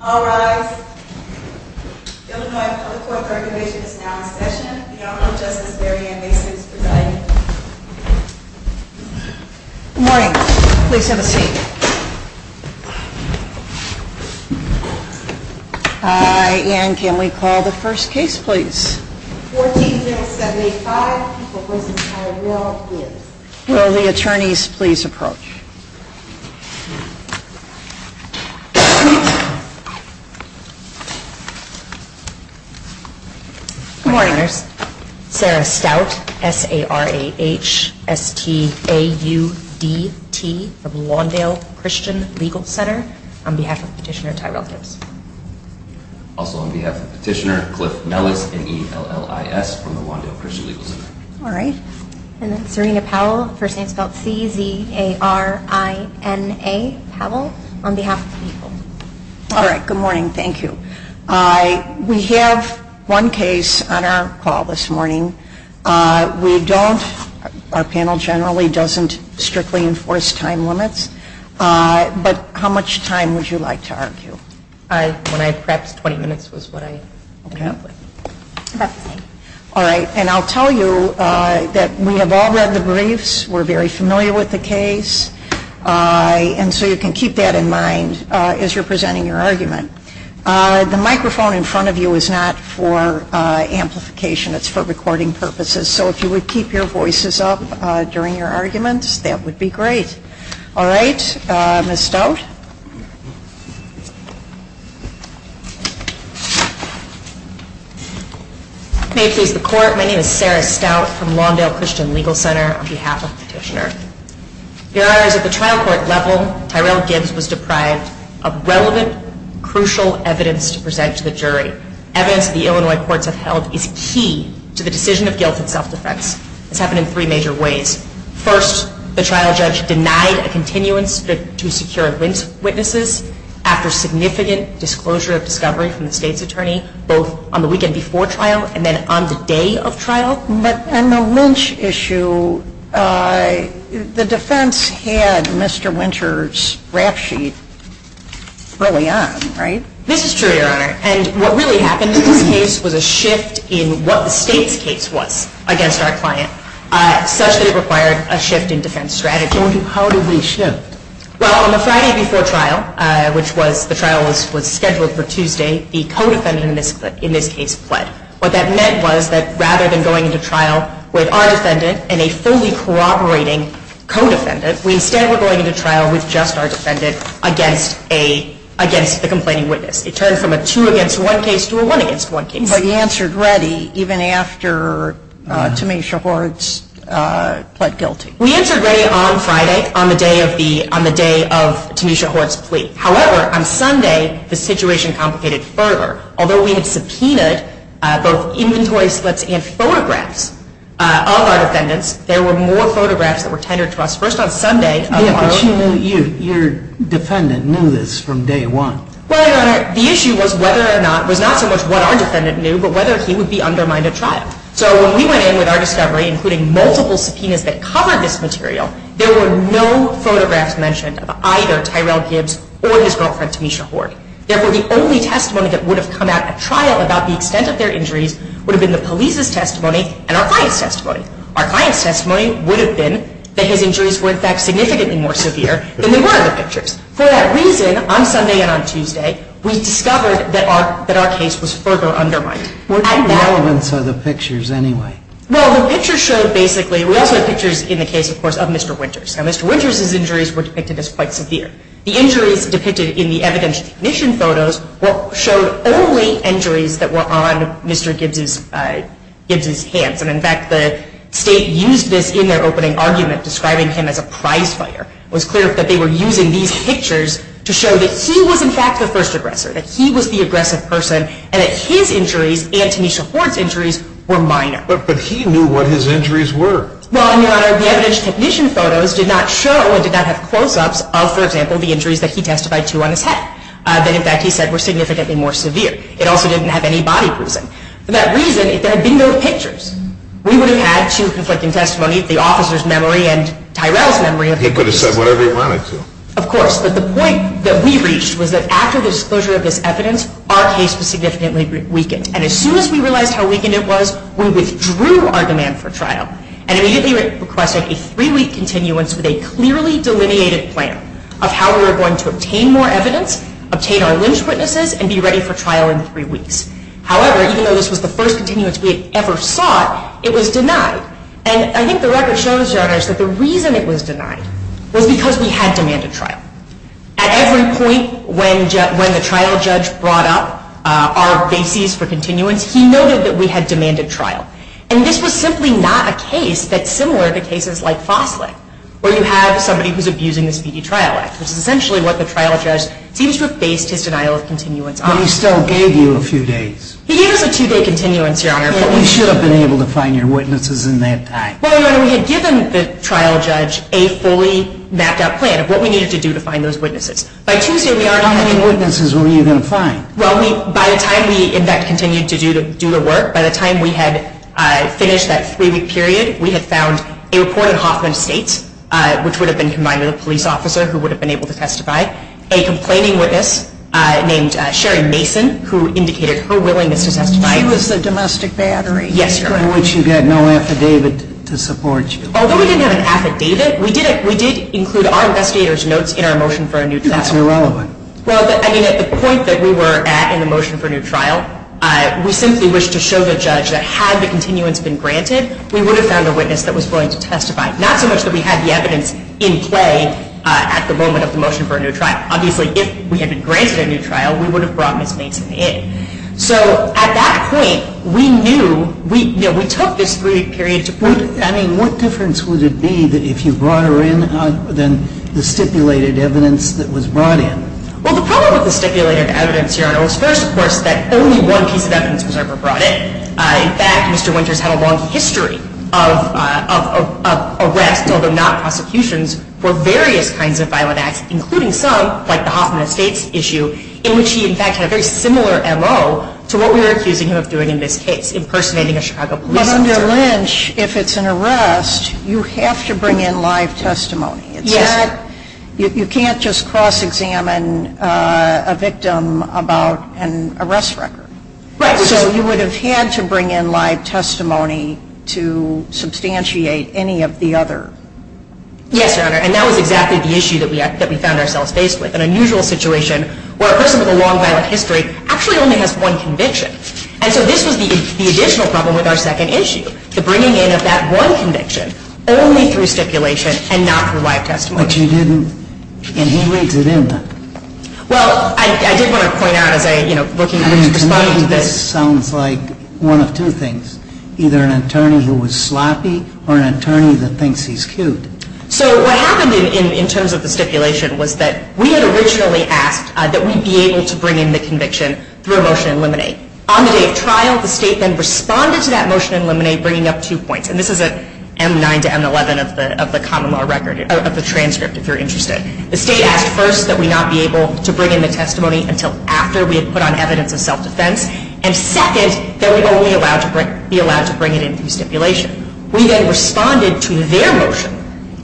All rise. Illinois Public Court Third Division is now in session. Your Honor, Justice Maryanne Mason is presiding. Good morning. Please have a seat. And can we call the first case, please? 14-0785, People v. Tyrell, Gibbs. Will the attorneys please approach? Good morning. Sarah Stout, S-A-R-A-H-S-T-A-U-D-T, of Lawndale Christian Legal Center, on behalf of Petitioner Tyrell Gibbs. Also on behalf of Petitioner Cliff Nellis, N-E-L-L-I-S, from the Lawndale Christian Legal Center. All right. And then Serena Powell, first name spelled C-Z-A-R-I-N-A, Powell, on behalf of People. All right. Good morning. Thank you. We have one case on our call this morning. We don't, our panel generally doesn't strictly enforce time limits. But how much time would you like to argue? When I prepped, 20 minutes was what I ended up with. About the same. All right. And I'll tell you that we have all read the briefs. We're very familiar with the case. And so you can keep that in mind as you're presenting your argument. The microphone in front of you is not for amplification. It's for recording purposes. So if you would keep your voices up during your arguments, that would be great. All right. Ms. Stout? May it please the Court. My name is Sarah Stout, from Lawndale Christian Legal Center, on behalf of Petitioner. Your Honor, at the trial court level, Tyrell Gibbs was deprived of relevant, crucial evidence to present to the jury. Evidence the Illinois courts have held is key to the decision of guilt and self-defense. This happened in three major ways. First, the trial judge denied a continuance to secure witnesses after significant disclosure of discovery from the State's attorney, both on the weekend before trial and then on the day of trial. But on the Lynch issue, the defense had Mr. Winter's rap sheet early on, right? This is true, Your Honor. And what really happened in this case was a shift in what the State's case was against our client, such that it required a shift in defense strategy. How did we shift? Well, on the Friday before trial, which the trial was scheduled for Tuesday, the co-defendant in this case pled. What that meant was that rather than going into trial with our defendant and a fully corroborating co-defendant, we instead were going into trial with just our defendant against the complaining witness. It turned from a two-against-one case to a one-against-one case. But you answered ready even after Tamisha Hord's pled guilty. We answered ready on Friday on the day of Tamisha Hord's plea. However, on Sunday, the situation complicated further. Although we had subpoenaed both inventory slips and photographs of our defendants, there were more photographs that were tendered to us first on Sunday. But your defendant knew this from day one. Well, Your Honor, the issue was not so much what our defendant knew, but whether he would be undermined at trial. So when we went in with our discovery, including multiple subpoenas that covered this material, there were no photographs mentioned of either Tyrell Gibbs or his girlfriend Tamisha Hord. Therefore, the only testimony that would have come out at trial about the extent of their injuries would have been the police's testimony and our client's testimony. Our client's testimony would have been that his injuries were, in fact, significantly more severe than they were in the pictures. For that reason, on Sunday and on Tuesday, we discovered that our case was further undermined. What relevance are the pictures, anyway? Well, the pictures showed basically, we also have pictures in the case, of course, of Mr. Winters. Now, Mr. Winters' injuries were depicted as quite severe. The injuries depicted in the evidence recognition photos showed only injuries that were on Mr. Gibbs' hands. And, in fact, the State used this in their opening argument, describing him as a prize fighter. It was clear that they were using these pictures to show that he was, in fact, the first aggressor, that he was the aggressive person, and that his injuries and Tamisha Hord's injuries were minor. But he knew what his injuries were. Well, Your Honor, the evidence recognition photos did not show or did not have close-ups of, for example, the injuries that he testified to on his head, that, in fact, he said were significantly more severe. It also didn't have any body bruising. For that reason, if there had been no pictures, we would have had two conflicting testimonies, the officer's memory and Tyrell's memory. He could have said whatever he wanted to. Of course, but the point that we reached was that after the disclosure of this evidence, our case was significantly weakened. And as soon as we realized how weakened it was, we withdrew our demand for trial and immediately requested a three-week continuance with a clearly delineated plan of how we were going to obtain more evidence, obtain our lynch witnesses, and be ready for trial in three weeks. However, even though this was the first continuance we had ever sought, it was denied. And I think the record shows, Your Honor, that the reason it was denied was because we had demanded trial. At every point when the trial judge brought up our bases for continuance, he noted that we had demanded trial. And this was simply not a case that's similar to cases like Fosslick, where you have somebody who's abusing the Speedy Trial Act, which is essentially what the trial judge seems to have based his denial of continuance on. But he still gave you a few days. He gave us a two-day continuance, Your Honor. But we should have been able to find your witnesses in that time. Well, Your Honor, we had given the trial judge a fully mapped-out plan of what we needed to do to find those witnesses. By Tuesday, we already had. How many witnesses were you going to find? Well, by the time we, in fact, continued to do the work, by the time we had finished that three-week period, we had found a report in Hoffman Estates, which would have been combined with a police officer who would have been able to testify, a complaining witness named Sherry Mason, who indicated her willingness to testify. She was the domestic battery. Yes, Your Honor. By which you get no affidavit to support you. Although we didn't have an affidavit, we did include our investigators' notes in our motion for a new trial. That's irrelevant. Well, I mean, at the point that we were at in the motion for a new trial, we simply wished to show the judge that had the continuance been granted, we would have found a witness that was willing to testify, not so much that we had the evidence in play at the moment of the motion for a new trial. Obviously, if we had been granted a new trial, we would have brought Ms. Mason in. So at that point, we knew, we took this three-week period to prove it. I mean, what difference would it be if you brought her in than the stipulated evidence that was brought in? Well, the problem with the stipulated evidence, Your Honor, was first, of course, that only one piece of evidence was ever brought in. In fact, Mr. Winters had a long history of arrests, although not prosecutions, for various kinds of violent acts, including some, like the Hoffman Estates issue, in which he, in fact, had a very similar MO to what we were accusing him of doing in this case, impersonating a Chicago police officer. But under Lynch, if it's an arrest, you have to bring in live testimony. Yes. You can't just cross-examine a victim about an arrest record. Right. So you would have had to bring in live testimony to substantiate any of the other. Yes, Your Honor, and that was exactly the issue that we found ourselves faced with. An unusual situation where a person with a long violent history actually only has one conviction. And so this was the additional problem with our second issue, the bringing in of that one conviction only through stipulation and not through live testimony. But you didn't, and he reads it in, though. Well, I did want to point out as I, you know, looking at Lynch's response to this. I mean, to me, this sounds like one of two things, either an attorney who was sloppy or an attorney that thinks he's cute. So what happened in terms of the stipulation was that we had originally asked that we be able to bring in the conviction through a motion in limine. On the day of trial, the state then responded to that motion in limine, bringing up two points. And this is an M9 to M11 of the common law record, of the transcript, if you're interested. The state asked first that we not be able to bring in the testimony until after we had put on evidence of self-defense. And second, that we only be allowed to bring it in through stipulation. We then responded to their motion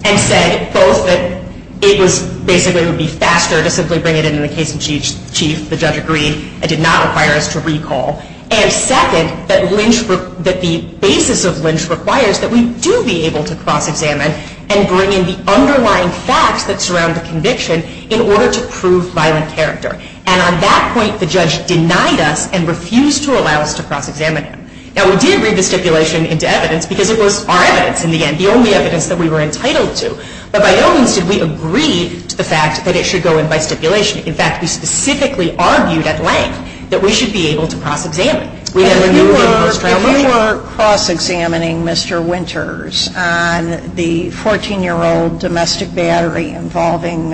and said both that it was basically, it would be faster to simply bring it in in the case in chief. The judge agreed. It did not require us to recall. And second, that Lynch, that the basis of Lynch requires that we do be able to cross-examine and bring in the underlying facts that surround the conviction in order to prove violent character. And on that point, the judge denied us and refused to allow us to cross-examine him. Now, we did read the stipulation into evidence because it was our evidence in the end, the only evidence that we were entitled to. But by no means did we agree to the fact that it should go in by stipulation. In fact, we specifically argued at length that we should be able to cross-examine. We had removed him post-trial. If you were cross-examining Mr. Winters on the 14-year-old domestic battery involving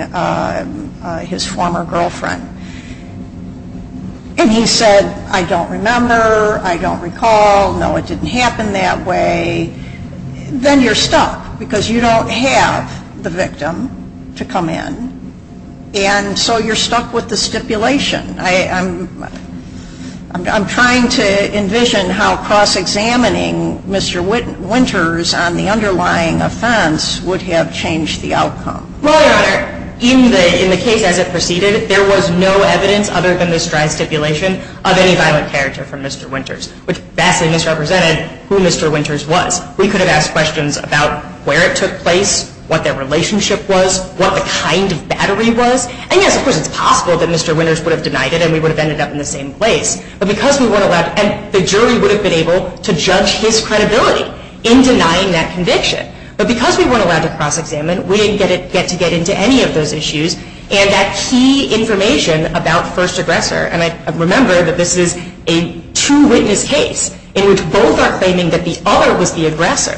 his former girlfriend, and he said, I don't remember, I don't recall, no, it didn't happen that way, then you're stuck because you don't have the victim to come in. And so you're stuck with the stipulation. I'm trying to envision how cross-examining Mr. Winters on the underlying offense would have changed the outcome. Well, Your Honor, in the case as it proceeded, there was no evidence other than this dry stipulation of any violent character from Mr. Winters, which vastly misrepresented who Mr. Winters was. We could have asked questions about where it took place, what their relationship was, what the kind of battery was. And yes, of course, it's possible that Mr. Winters would have denied it and we would have ended up in the same place. But because we weren't allowed, and the jury would have been able to judge his credibility in denying that conviction. But because we weren't allowed to cross-examine, we didn't get to get into any of those issues and that key information about first aggressor, and I remember that this is a two witness case in which both are claiming that the other was the aggressor.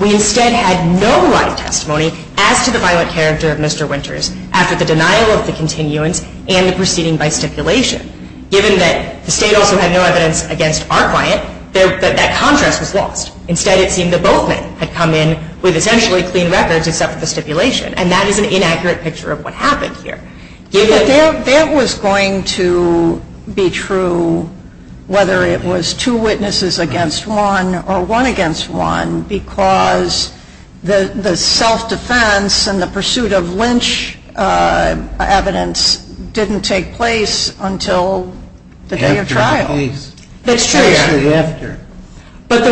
We instead had no live testimony as to the violent character of Mr. Winters after the denial of the continuance and the proceeding by stipulation. Given that the state also had no evidence against our client, that contrast was lost. Instead, it seemed that both men had come in with essentially clean records except for the stipulation, and that is an inaccurate picture of what happened here. That was going to be true whether it was two witnesses against one or one against one because the self-defense and the pursuit of lynch evidence didn't take place until the day of trial. That's true, yeah. But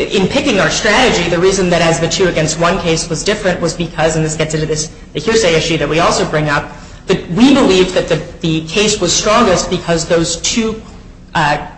in picking our strategy, the reason that as the two against one case was different was because, and this gets into this hearsay issue that we also bring up, that we believed that the case was strongest because those two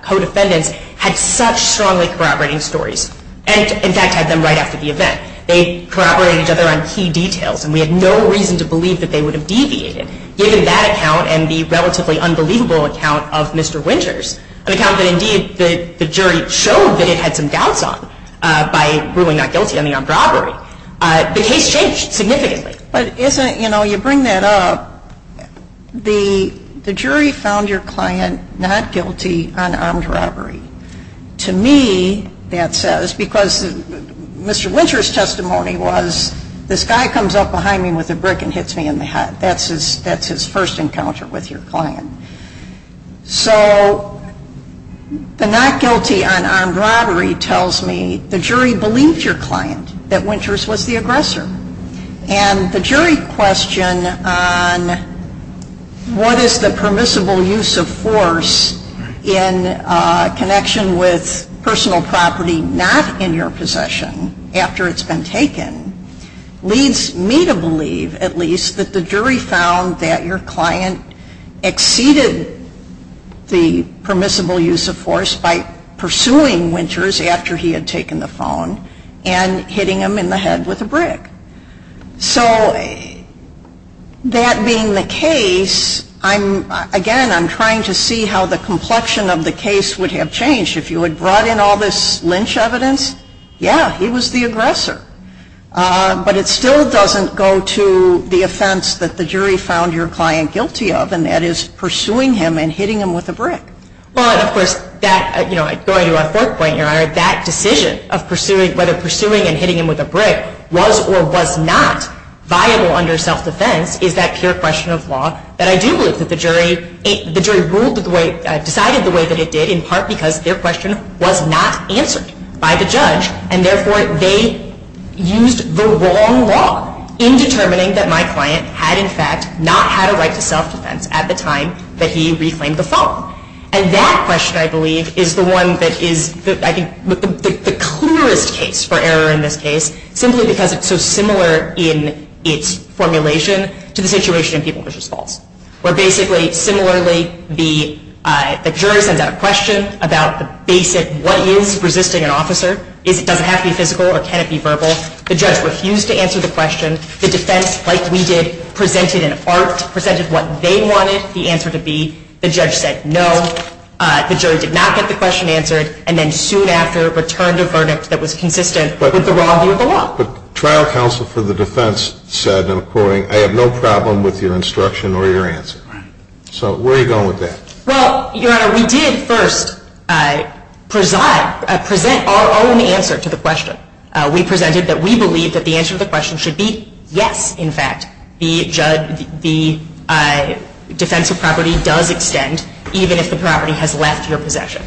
co-defendants had such strongly corroborating stories, and in fact had them right after the event. They corroborated each other on key details, and we had no reason to believe that they would have deviated given that account and the relatively unbelievable account of Mr. Winters, an account that indeed the jury showed that it had some doubts on by ruling not guilty on the armed robbery. The case changed significantly. But isn't, you know, you bring that up, the jury found your client not guilty on armed robbery. To me, that says, because Mr. Winters' testimony was, this guy comes up behind me with a brick and hits me in the head. That's his first encounter with your client. So the not guilty on armed robbery tells me the jury believed your client, that Winters was the aggressor. And the jury question on what is the permissible use of force in connection with personal property not in your possession after it's been taken leads me to believe at least that the jury found that your client exceeded the permissible use of force by pursuing Winters after he had taken the phone and hitting him in the head with a brick. So that being the case, again, I'm trying to see how the complexion of the case would have changed. If you had brought in all this lynch evidence, yeah, he was the aggressor. But it still doesn't go to the offense that the jury found your client guilty of, and that is pursuing him and hitting him with a brick. Well, and of course, that, you know, going to our fourth point, Your Honor, that decision of whether pursuing and hitting him with a brick was or was not viable under self-defense is that pure question of law that I do believe that the jury ruled the way, decided the way that it did in part because their question was not answered by the judge. And therefore, they used the wrong law in determining that my client had, in fact, not had a right to self-defense at the time that he reclaimed the phone. And that question, I believe, is the one that is, I think, the clearest case for error in this case simply because it's so similar in its formulation to the situation in People vs. Falls, where basically, similarly, the jury sends out a question about the basic what is resisting an officer is does it have to be physical or can it be verbal. The judge refused to answer the question. The defense, like we did, presented an art, presented what they wanted the answer to be. The judge said no. The jury did not get the question answered. And then soon after, returned a verdict that was consistent with the raw view of the law. But trial counsel for the defense said, and I'm quoting, I have no problem with your instruction or your answer. Right. So where are you going with that? Well, Your Honor, we did first present our own answer to the question. We presented that we believe that the answer to the question should be yes, in fact. The defense of property does extend even if the property has left your possession.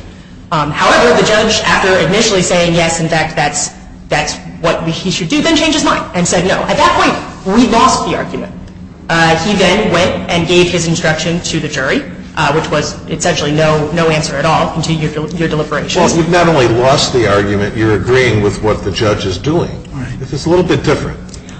However, the judge, after initially saying yes, in fact, that's what he should do, then changed his mind and said no. At that point, we lost the argument. He then went and gave his instruction to the jury, which was essentially no answer at all to your deliberations. Well, you've not only lost the argument, you're agreeing with what the judge is doing. Right. This is a little bit different.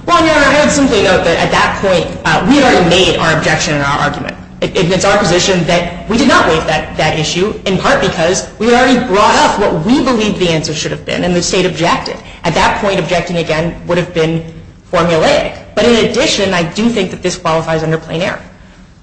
Well, Your Honor, I would simply note that at that point, we had already made our objection and our argument. It's our position that we did not waive that issue, in part because we had already brought up what we believed the answer should have been, and the state objected. At that point, objecting again would have been formulaic. But in addition, I do think that this qualifies under plain error.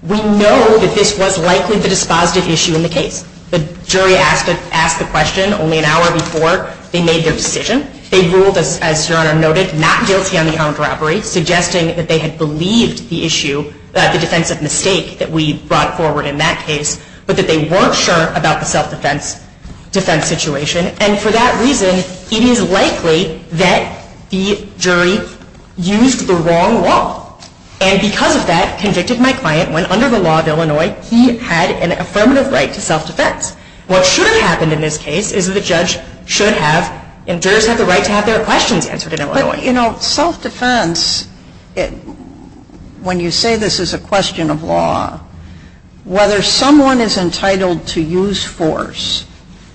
We know that this was likely the dispositive issue in the case. The jury asked the question only an hour before they made their decision. They ruled, as Your Honor noted, not guilty on the armed robbery, suggesting that they had believed the issue, the defensive mistake that we brought forward in that case, but that they weren't sure about the self-defense situation. And for that reason, it is likely that the jury used the wrong law. And because of that, convicted my client when, under the law of Illinois, he had an affirmative right to self-defense. What should have happened in this case is that the judge should have, and jurors have the right to have their questions answered in Illinois. But, you know, self-defense, when you say this is a question of law, whether someone is entitled to use force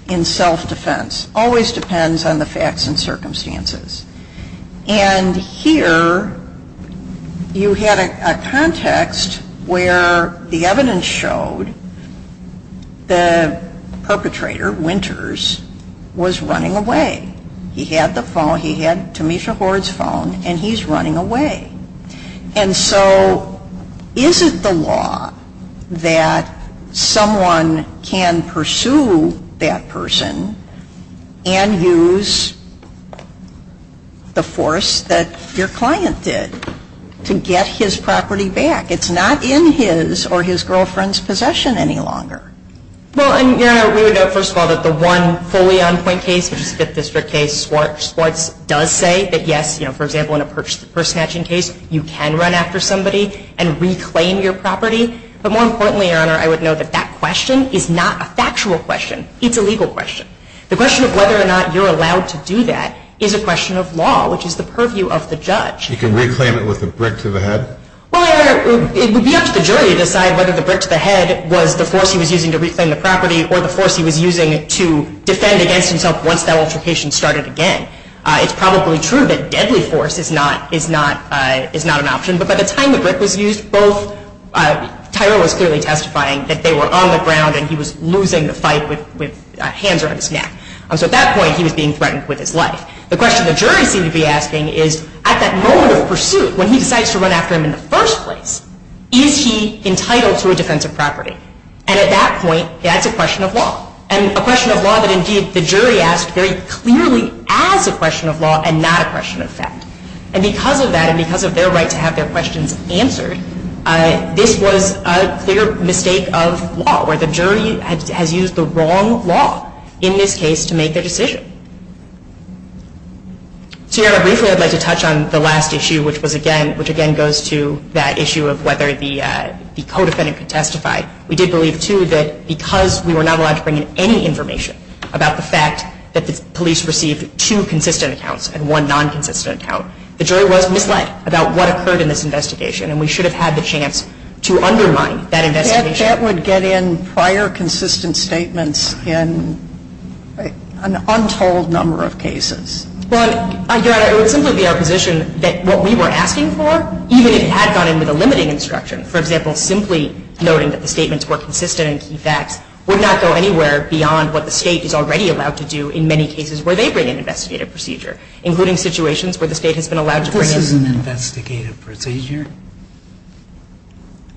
in self-defense always depends on the facts and circumstances. And here, you had a context where the evidence showed the perpetrator, Winters, was running away. He had the phone, he had Tamisha Hord's phone, and he's running away. And so is it the law that someone can pursue that person and use the force that your client did to get his property back? It's not in his or his girlfriend's possession any longer. Well, Your Honor, we would note, first of all, that the one fully on-point case, which is the Fifth District case, Swartz does say that, yes, you know, for example, in a purse snatching case, you can run after somebody and reclaim your property. But more importantly, Your Honor, I would note that that question is not a factual question. It's a legal question. The question of whether or not you're allowed to do that is a question of law, which is the purview of the judge. You can reclaim it with a brick to the head? Well, it would be up to the jury to decide whether the brick to the head was the force he was using to reclaim the property or the force he was using to defend against himself once that altercation started again. It's probably true that deadly force is not an option. But by the time the brick was used, Tyrell was clearly testifying that they were on the ground and he was losing the fight with hands around his neck. So at that point, he was being threatened with his life. The question the jury seemed to be asking is, at that moment of pursuit, when he decides to run after him in the first place, is he entitled to a defensive property? And at that point, that's a question of law. And a question of law that, indeed, the jury asked very clearly as a question of law and not a question of fact. And because of that, and because of their right to have their questions answered, this was a clear mistake of law, where the jury has used the wrong law in this case to make their decision. So, Your Honor, briefly, I'd like to touch on the last issue, which again goes to that issue of whether the co-defendant could testify. We did believe, too, that because we were not allowed to bring in any information about the fact that the police received two consistent accounts and one non-consistent account, the jury was misled about what occurred in this investigation, and we should have had the chance to undermine that investigation. That would get in prior consistent statements in an untold number of cases. Well, Your Honor, it would simply be our position that what we were asking for, even if it had gone in with a limiting instruction, for example, simply noting that the statements were consistent and key facts, would not go anywhere beyond what the State is already allowed to do in many cases where they bring an investigative procedure, including situations where the State has been allowed to bring in This is an investigative procedure?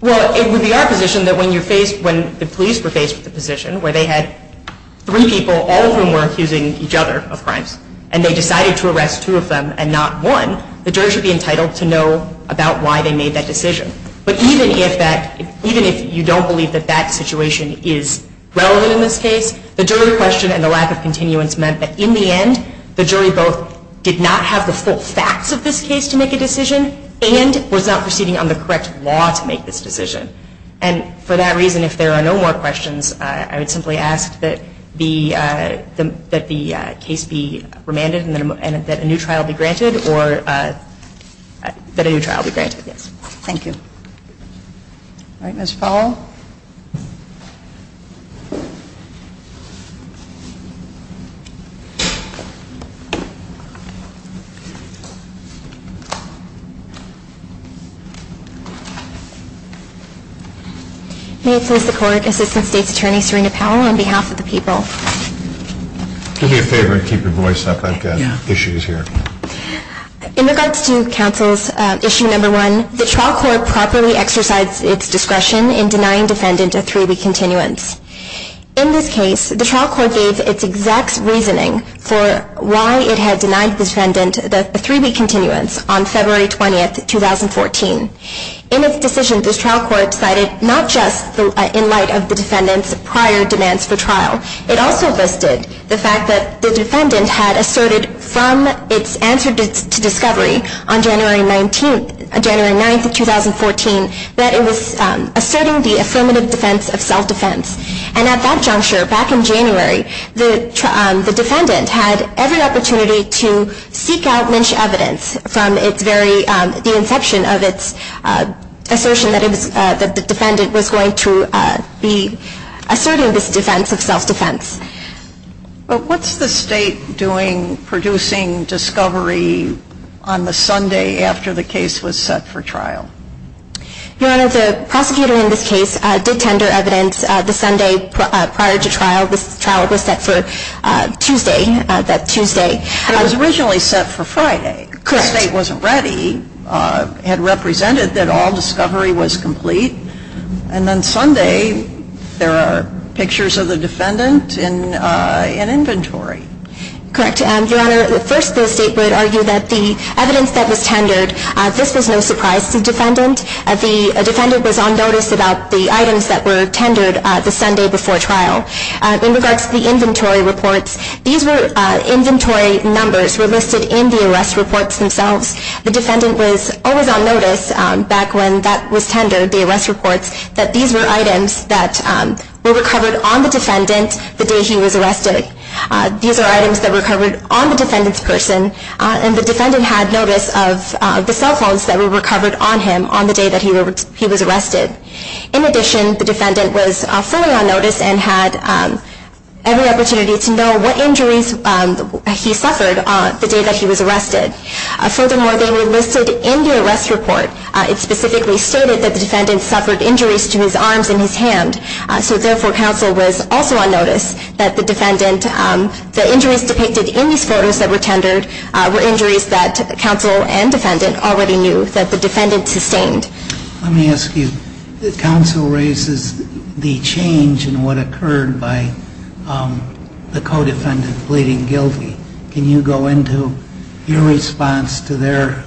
Well, it would be our position that when the police were faced with a position where they had three people, all of whom were accusing each other of crimes, and they decided to arrest two of them and not one, the jury should be entitled to know about why they made that decision. But even if you don't believe that that situation is relevant in this case, the jury question and the lack of continuance meant that in the end, the jury both did not have the full facts of this case to make a decision and was not proceeding on the correct law to make this decision. And for that reason, if there are no more questions, I would simply ask that the case be remanded and that a new trial be granted. Thank you. All right, Ms. Powell? May it please the Court, Assistant State's Attorney Serena Powell, on behalf of the people. Do me a favor and keep your voice up. I've got issues here. In regards to counsel's issue number one, the trial court properly exercised its discretion in denying defendant a three-week continuance. In this case, the trial court gave its exact reasoning for why it had denied the defendant a three-week continuance on February 20, 2014. In its decision, this trial court cited not just in light of the defendant's prior demands for trial, it also listed the fact that the defendant had asserted from its answer to discovery on January 9, 2014, that it was asserting the affirmative defense of self-defense. And at that juncture, back in January, the defendant had every opportunity to seek out lynched evidence from its very, the inception of its assertion that the defendant was going to be asserting this defense of self-defense. But what's the State doing producing discovery on the Sunday after the case was set for trial? Your Honor, the prosecutor in this case did tender evidence the Sunday prior to trial. This trial was set for Tuesday, that Tuesday. But it was originally set for Friday. Correct. The State wasn't ready, had represented that all discovery was complete, and then Sunday there are pictures of the defendant in inventory. Correct. Your Honor, first the State would argue that the evidence that was tendered, this was no surprise to the defendant. The defendant was on notice about the items that were tendered the Sunday before trial. In regards to the inventory reports, these were inventory numbers were listed in the arrest reports themselves. The defendant was always on notice back when that was tendered, the arrest reports, that these were items that were recovered on the defendant the day he was arrested. These are items that were recovered on the defendant's person, and the defendant had notice of the cell phones that were recovered on him on the day that he was arrested. In addition, the defendant was fully on notice and had every opportunity to know what injuries he suffered the day that he was arrested. Furthermore, they were listed in the arrest report. It specifically stated that the defendant suffered injuries to his arms and his hand, so therefore counsel was also on notice that the injuries depicted in these photos that were tendered were injuries that counsel and defendant already knew that the defendant sustained. Let me ask you, counsel raises the change in what occurred by the co-defendant pleading guilty. Can you go into your response to their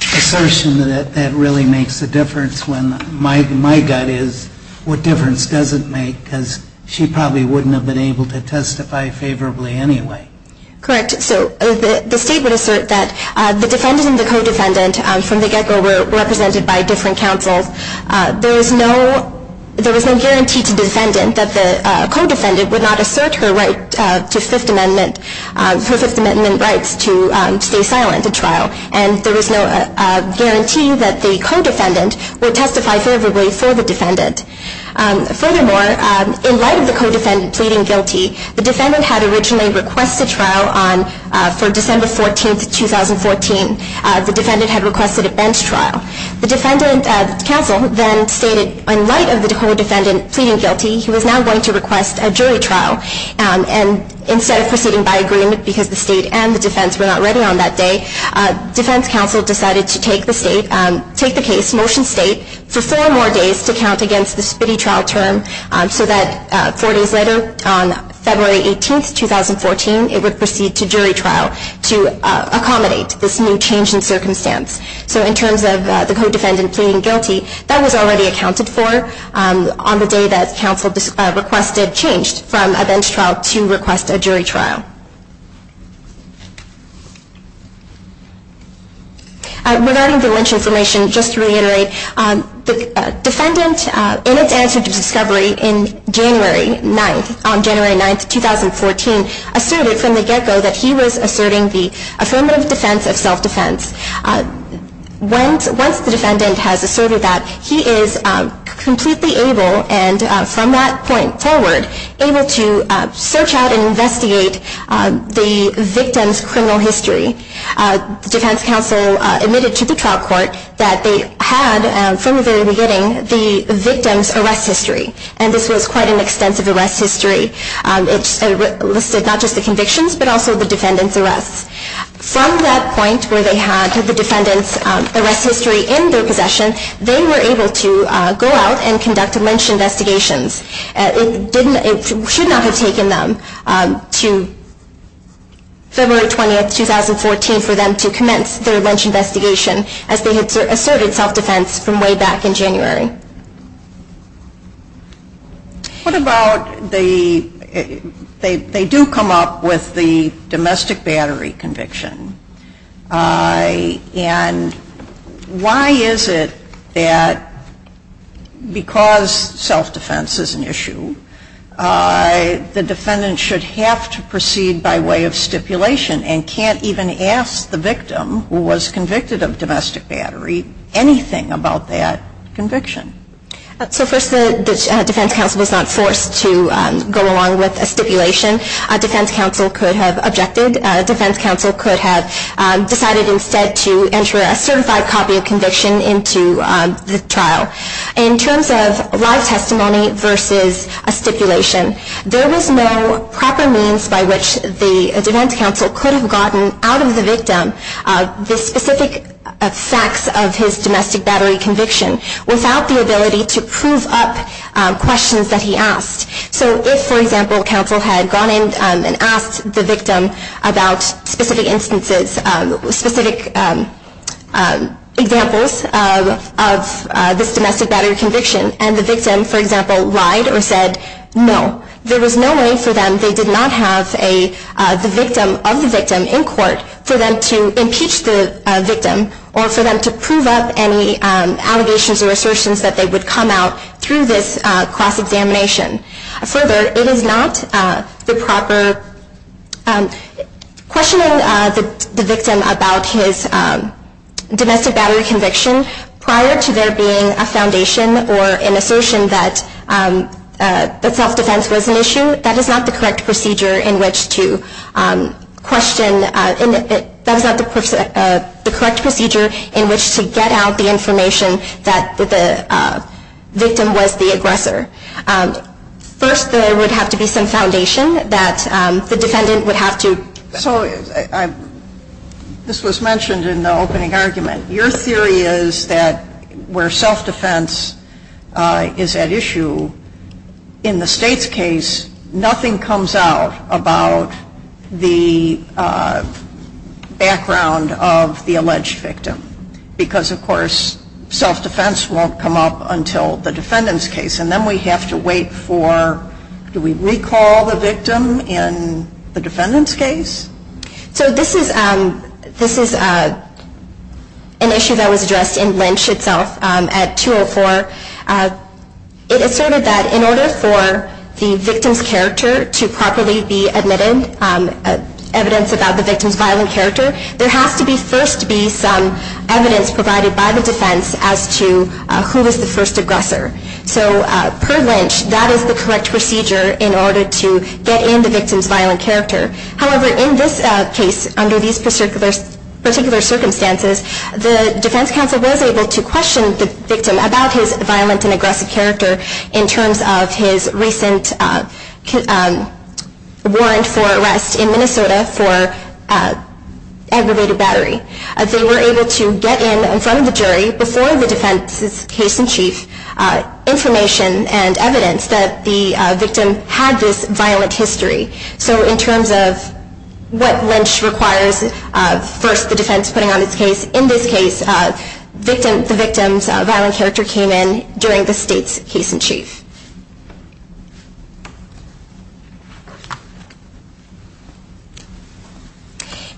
assertion that that really makes a difference when my gut is what difference does it make because she probably wouldn't have been able to testify favorably anyway? Correct. The state would assert that the defendant and the co-defendant from the get-go were represented by different counsels. There was no guarantee to the defendant that the co-defendant would not assert her right to Fifth Amendment rights to stay silent at trial, and there was no guarantee that the co-defendant would testify favorably for the defendant. Furthermore, in light of the co-defendant pleading guilty, the defendant had originally requested trial for December 14, 2014. The defendant had requested a bench trial. The counsel then stated, in light of the co-defendant pleading guilty, he was now going to request a jury trial, and instead of proceeding by agreement because the state and the defense were not ready on that day, defense counsel decided to take the case, motion state, for four more days to count against the spitty trial term so that four days later, on February 18, 2014, it would proceed to jury trial to accommodate this new change in circumstance. So in terms of the co-defendant pleading guilty, that was already accounted for on the day that counsel requested, changed from a bench trial to request a jury trial. Regarding the lynch information, just to reiterate, the defendant, in its answer to discovery on January 9, 2014, asserted from the get-go that he was asserting the affirmative defense of self-defense. Once the defendant has asserted that, he is completely able, and from that point forward, able to search out and investigate the victim's criminal history. Defense counsel admitted to the trial court that they had, from the very beginning, the victim's arrest history. And this was quite an extensive arrest history. It listed not just the convictions, but also the defendant's arrests. From that point where they had the defendant's arrest history in their possession, they were able to go out and conduct lynch investigations. It should not have taken them to February 20, 2014, for them to commence their lynch investigation, as they had asserted self-defense from way back in January. What about the, they do come up with the domestic battery conviction. And why is it that, because self-defense is an issue, the defendant should have to proceed by way of stipulation, and can't even ask the victim, who was convicted of domestic battery, anything about that conviction? So first, the defense counsel was not forced to go along with a stipulation. Defense counsel could have objected. Defense counsel could have decided, instead, to enter a certified copy of conviction into the trial. In terms of live testimony versus a stipulation, there was no proper means by which the defense counsel could have gotten out of the victim the specific facts of his domestic battery conviction, without the ability to prove up questions that he asked. So if, for example, counsel had gone in and asked the victim about specific instances, specific examples of this domestic battery conviction, and the victim, for example, lied or said no, there was no way for them, they did not have the victim of the victim in court, for them to impeach the victim, or for them to prove up any allegations or assertions that they would come out through this cross-examination. Further, it is not the proper, questioning the victim about his domestic battery conviction, prior to there being a foundation or an assertion that self-defense was an issue, that is not the correct procedure in which to question, that is not the correct procedure in which to get out the information that the victim was the aggressor. First, there would have to be some foundation that the defendant would have to... So, this was mentioned in the opening argument. Your theory is that where self-defense is at issue, in the state's case, nothing comes out about the background of the alleged victim, because, of course, self-defense won't come up until the defendant's case, and then we have to wait for, do we recall the victim in the defendant's case? So this is an issue that was addressed in Lynch itself at 204. It asserted that in order for the victim's character to properly be admitted, evidence about the victim's violent character, there has to first be some evidence provided by the defense as to who was the first aggressor. So, per Lynch, that is the correct procedure in order to get in the victim's violent character. However, in this case, under these particular circumstances, the defense counsel was able to question the victim about his violent and aggressive character in terms of his recent warrant for arrest in Minnesota for aggravated battery. They were able to get in in front of the jury, before the defense's case in chief, information and evidence that the victim had this violent history. So, in terms of what Lynch requires, first the defense putting on its case, in this case, the victim's violent character came in during the state's case in chief.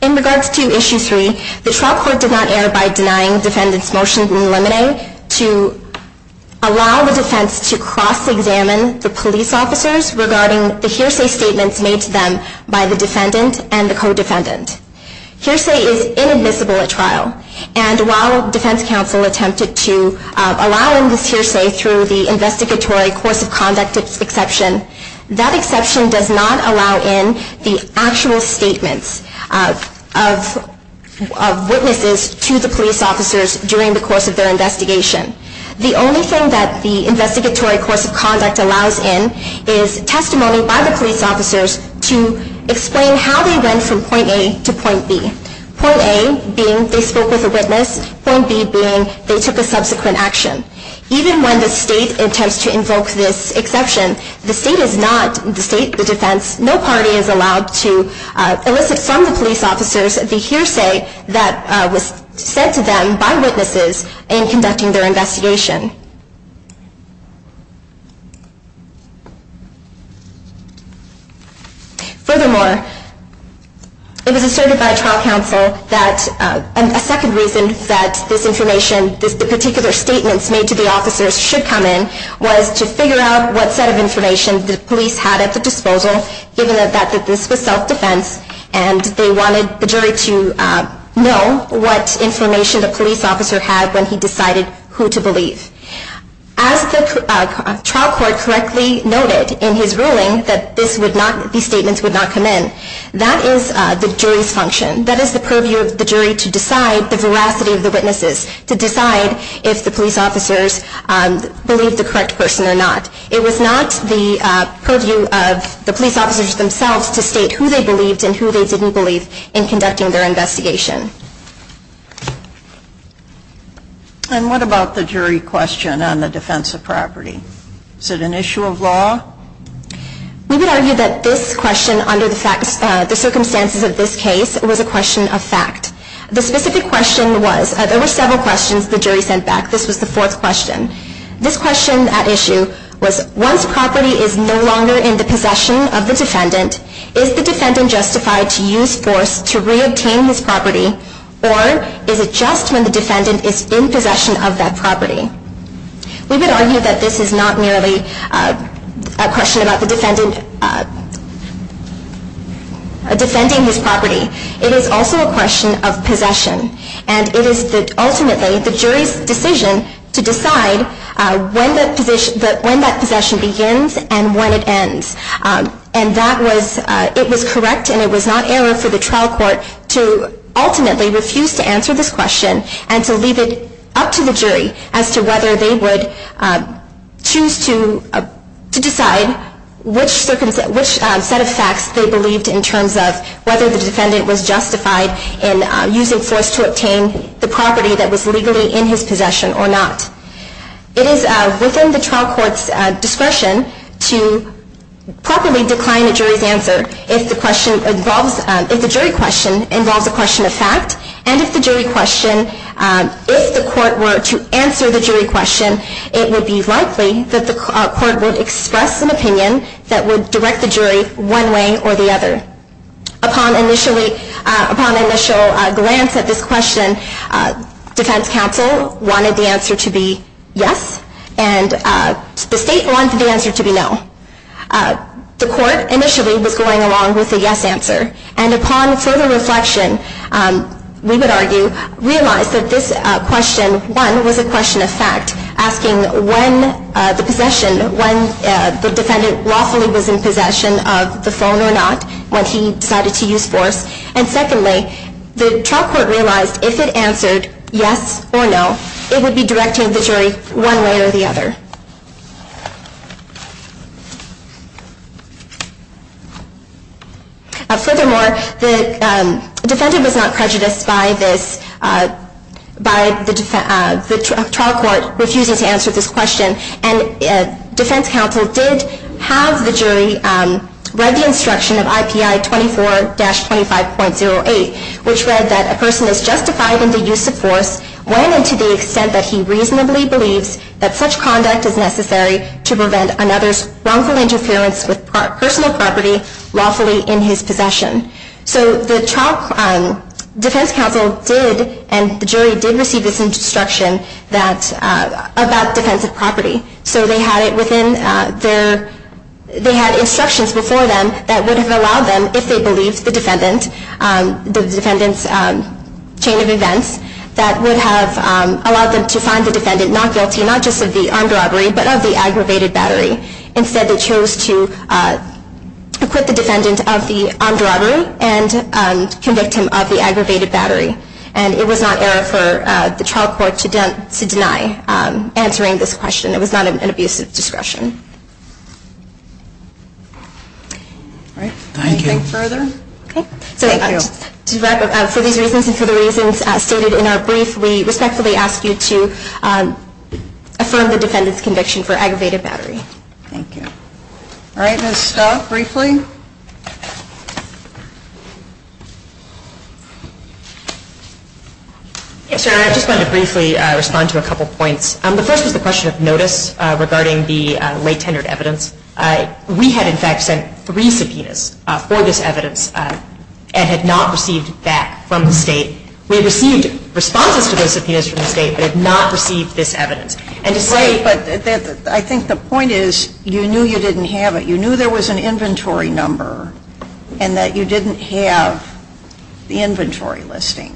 In regards to Issue 3, the trial court did not err by denying the defendant's motion to eliminate, to allow the defense to cross-examine the police officers regarding the hearsay statements made to them by the defendant and the co-defendant. Hearsay is inadmissible at trial, and while defense counsel attempted to allow in this hearsay through the investigatory course of conduct exception, that exception does not allow in the actual statements of witnesses to the police officers during the course of their investigation. The only thing that the investigatory course of conduct allows in is testimony by the police officers to explain how they went from point A to point B, point A being they spoke with a witness, point B being they took a subsequent action. Even when the state attempts to invoke this exception, the state is not, the state, the defense, no party is allowed to elicit from the police officers the hearsay that was said to them by witnesses in conducting their investigation. Furthermore, it was asserted by trial counsel that a second reason that this information, the particular statements made to the officers should come in, was to figure out what set of information the police had at their disposal, given that this was self-defense, and they wanted the jury to know what information the police officer had when he decided who to believe. As the trial court correctly noted in his ruling that these statements would not come in, that is the jury's function. That is the purview of the jury to decide the veracity of the witnesses, to decide if the police officers believed the correct person or not. It was not the purview of the police officers themselves to state who they believed and who they didn't believe in conducting their investigation. And what about the jury question on the defense of property? Is it an issue of law? We would argue that this question, under the circumstances of this case, was a question of fact. The specific question was, there were several questions the jury sent back. This was the fourth question. This question at issue was, once property is no longer in the possession of the defendant, is the defendant justified to use force to re-obtain this property, or is it just when the defendant is in possession of that property? We would argue that this is not merely a question about the defendant defending his property. It is also a question of possession. And it is ultimately the jury's decision to decide when that possession begins and when it ends. And it was correct and it was not error for the trial court to ultimately refuse to answer this question and to leave it up to the jury as to whether they would choose to decide which set of facts they believed in terms of whether the defendant was justified in using force to obtain the property that was legally in his possession or not. It is within the trial court's discretion to properly decline the jury's answer if the jury question involves a question of fact. And if the jury question, if the court were to answer the jury question, it would be likely that the court would express an opinion that would direct the jury one way or the other. Upon initial glance at this question, defense counsel wanted the answer to be yes and the state wanted the answer to be no. The court initially was going along with the yes answer. And upon further reflection, we would argue, realized that this question, one, was a question of fact, asking when the defendant lawfully was in possession of the phone or not when he decided to use force. And secondly, the trial court realized if it answered yes or no, it would be directing the jury one way or the other. Furthermore, the defendant was not prejudiced by the trial court refusing to answer this question. And defense counsel did have the jury read the instruction of IPI 24-25.08, which read that a person is justified in the use of force when and to the extent that he reasonably believes that such conduct is necessary to prevent another's wrongful interference with personal property lawfully in his possession. So the trial defense counsel did, and the jury did receive this instruction about defensive property. So they had instructions before them that would have allowed them, if they believed the defendant, the defendant's chain of events, that would have allowed them to find the defendant not guilty not just of the armed robbery but of the aggravated battery. Instead, they chose to acquit the defendant of the armed robbery and convict him of the aggravated battery. And it was not error for the trial court to deny answering this question. It was not an abuse of discretion. Thank you. Anything further? Thank you. For these reasons and for the reasons stated in our brief, we respectfully ask you to affirm the defendant's conviction for aggravated battery. Thank you. All right. Let's stop briefly. Yes, Your Honor. I just wanted to briefly respond to a couple of points. The first was the question of notice regarding the late-tendered evidence. We had, in fact, sent three subpoenas for this evidence and had not received that from the State. We had received responses to those subpoenas from the State but had not received this evidence. I think the point is you knew you didn't have it. You knew there was an inventory number and that you didn't have the inventory listing.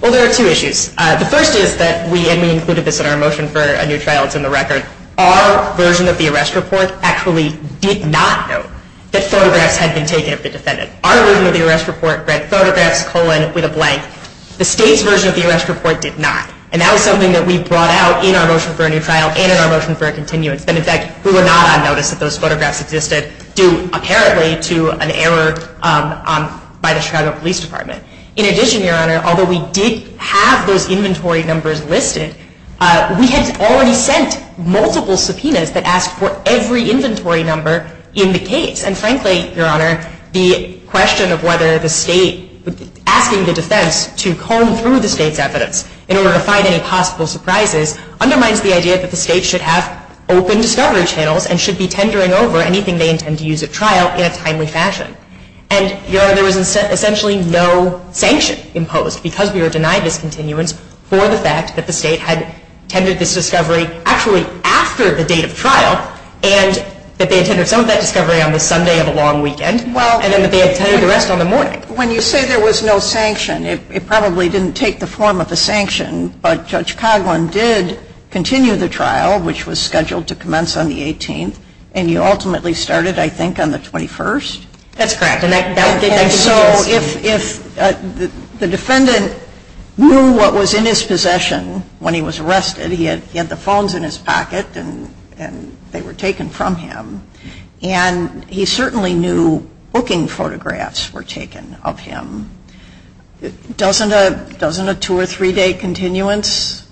Well, there are two issues. The first is that we included this in our motion for a new trial. It's in the record. Our version of the arrest report actually did not note that photographs had been taken of the defendant. Our version of the arrest report read photographs, colon, with a blank. The State's version of the arrest report did not. And that was something that we brought out in our motion for a new trial and in our motion for a continuance. And, in fact, we were not on notice that those photographs existed due, apparently, to an error by the Chicago Police Department. In addition, Your Honor, although we did have those inventory numbers listed, we had already sent multiple subpoenas that asked for every inventory number in the case. And, frankly, Your Honor, the question of whether the State, asking the defense to comb through the State's evidence in order to find any possible surprises undermines the idea that the State should have open discovery channels and should be tendering over anything they intend to use at trial in a timely fashion. And, Your Honor, there was essentially no sanction imposed because we were denied this continuance for the fact that the State had tended this discovery actually after the date of trial and that they had tended some of that discovery on the Sunday of a long weekend and then that they had tended the rest on the morning. When you say there was no sanction, it probably didn't take the form of a sanction, but Judge Coghlan did continue the trial, which was scheduled to commence on the 18th, and you ultimately started, I think, on the 21st? That's correct. And so if the defendant knew what was in his possession when he was arrested, he had the phones in his pocket and they were taken from him, and he certainly knew booking photographs were taken of him. Doesn't a two- or three-day continuance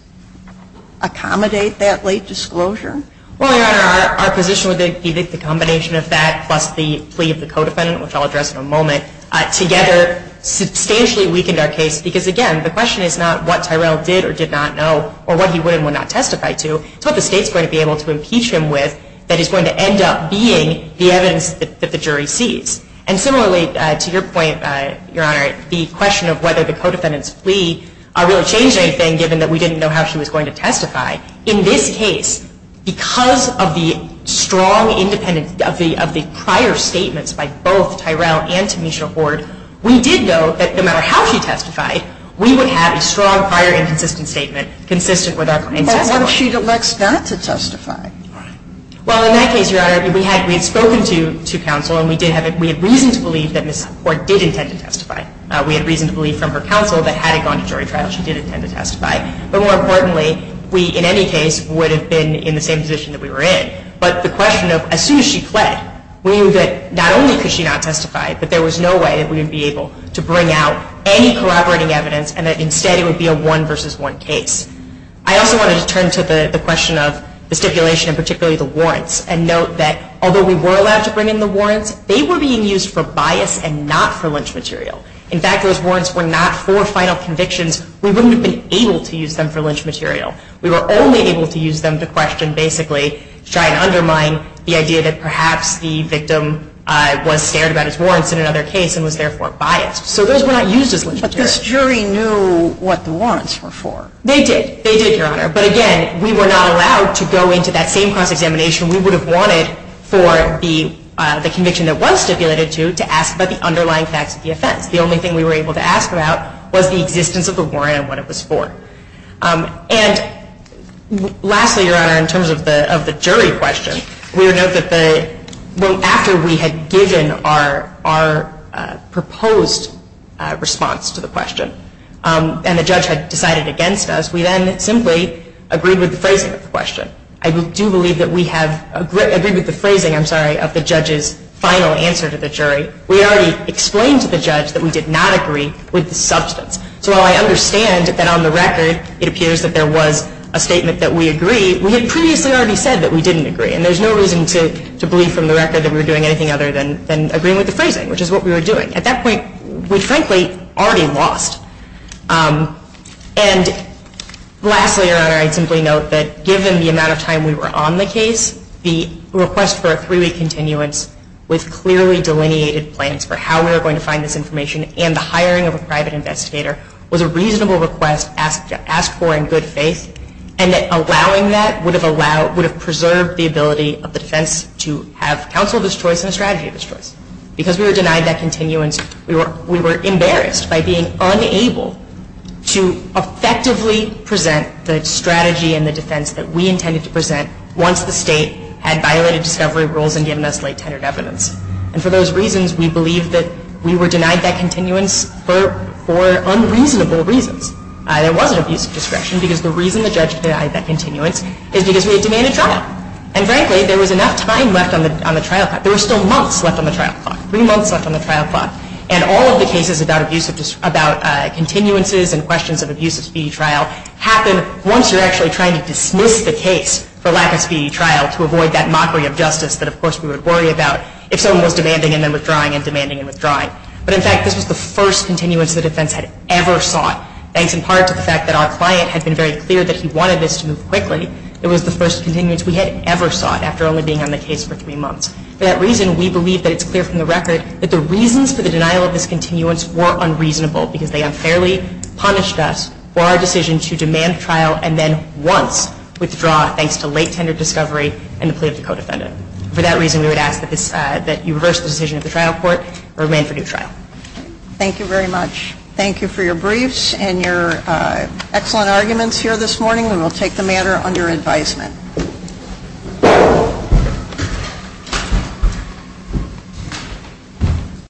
accommodate that late disclosure? Well, Your Honor, our position would be that the combination of that plus the plea of the co-defendant, which I'll address in a moment, together substantially weakened our case because, again, the question is not what Tyrell did or did not know or what he would and would not testify to. It's what the State's going to be able to impeach him with that is going to end up being the evidence that the jury sees. And similarly, to your point, Your Honor, the question of whether the co-defendant's plea really changed anything, given that we didn't know how she was going to testify, in this case, because of the strong, independent, of the prior statements by both Tyrell and Tamisha Hoard, we did know that no matter how she testified, we would have a strong, prior, and consistent statement, consistent with our claims. But what if she elects not to testify? Well, in that case, Your Honor, we had spoken to counsel, and we did have reason to believe that Ms. Hoard did intend to testify. We had reason to believe from her counsel that had it gone to jury trial, she did intend to testify. But more importantly, we, in any case, would have been in the same position that we were in. But the question of as soon as she fled, not only could she not testify, but there was no way that we would be able to bring out any corroborating evidence and that instead it would be a one versus one case. I also wanted to turn to the question of the stipulation, and particularly the warrants, and note that although we were allowed to bring in the warrants, they were being used for bias and not for lynch material. In fact, those warrants were not for final convictions. We wouldn't have been able to use them for lynch material. We were only able to use them to question, basically, to try and undermine the idea that perhaps the victim was scared about his warrants in another case and was therefore biased. So those were not used as lynch material. This jury knew what the warrants were for. They did. They did, Your Honor. But again, we were not allowed to go into that same cross-examination we would have wanted for the conviction that was stipulated to, to ask about the underlying facts of the offense. The only thing we were able to ask about was the existence of the warrant and what it was for. And lastly, Your Honor, in terms of the jury question, we would note that after we had given our proposed response to the question, and the judge had decided against us, we then simply agreed with the phrasing of the question. I do believe that we have agreed with the phrasing, I'm sorry, of the judge's final answer to the jury. We already explained to the judge that we did not agree with the substance. So while I understand that on the record it appears that there was a statement that we agree, we had previously already said that we didn't agree. And there's no reason to believe from the record that we were doing anything other than agreeing with the phrasing, which is what we were doing. At that point, we frankly already lost. And lastly, Your Honor, I'd simply note that given the amount of time we were on the case, the request for a three-week continuance with clearly delineated plans for how we were going to find this information and the hiring of a private investigator was a reasonable request asked for in good faith, and that allowing that would have preserved the ability of the defense to have counsel of its choice and a strategy of its choice. Because we were denied that continuance, we were embarrassed by being unable to effectively present the strategy and the defense that we intended to present once the state had violated discovery rules and given us late-tenured evidence. And for those reasons, we believe that we were denied that continuance for unreasonable reasons. There was an abuse of discretion because the reason the judge denied that continuance is because we had demanded trial. And frankly, there was enough time left on the trial clock. There were still months left on the trial clock, three months left on the trial clock. And all of the cases about continuances and questions of abuse of speedy trial happen once you're actually trying to dismiss the case for lack of speedy trial to avoid that mockery of justice that, of course, we would worry about if someone was demanding and then withdrawing and demanding and withdrawing. But in fact, this was the first continuance the defense had ever sought, thanks in part to the fact that our client had been very clear that he wanted this to move quickly. It was the first continuance we had ever sought after only being on the case for three months. For that reason, we believe that it's clear from the record that the reasons for the denial of this continuance were unreasonable because they unfairly punished us for our decision to demand trial and then once withdraw thanks to late, tender discovery and the plea of the co-defendant. For that reason, we would ask that you reverse the decision of the trial court or demand for new trial. Thank you very much. Thank you for your briefs and your excellent arguments here this morning. We will take the matter under advisement.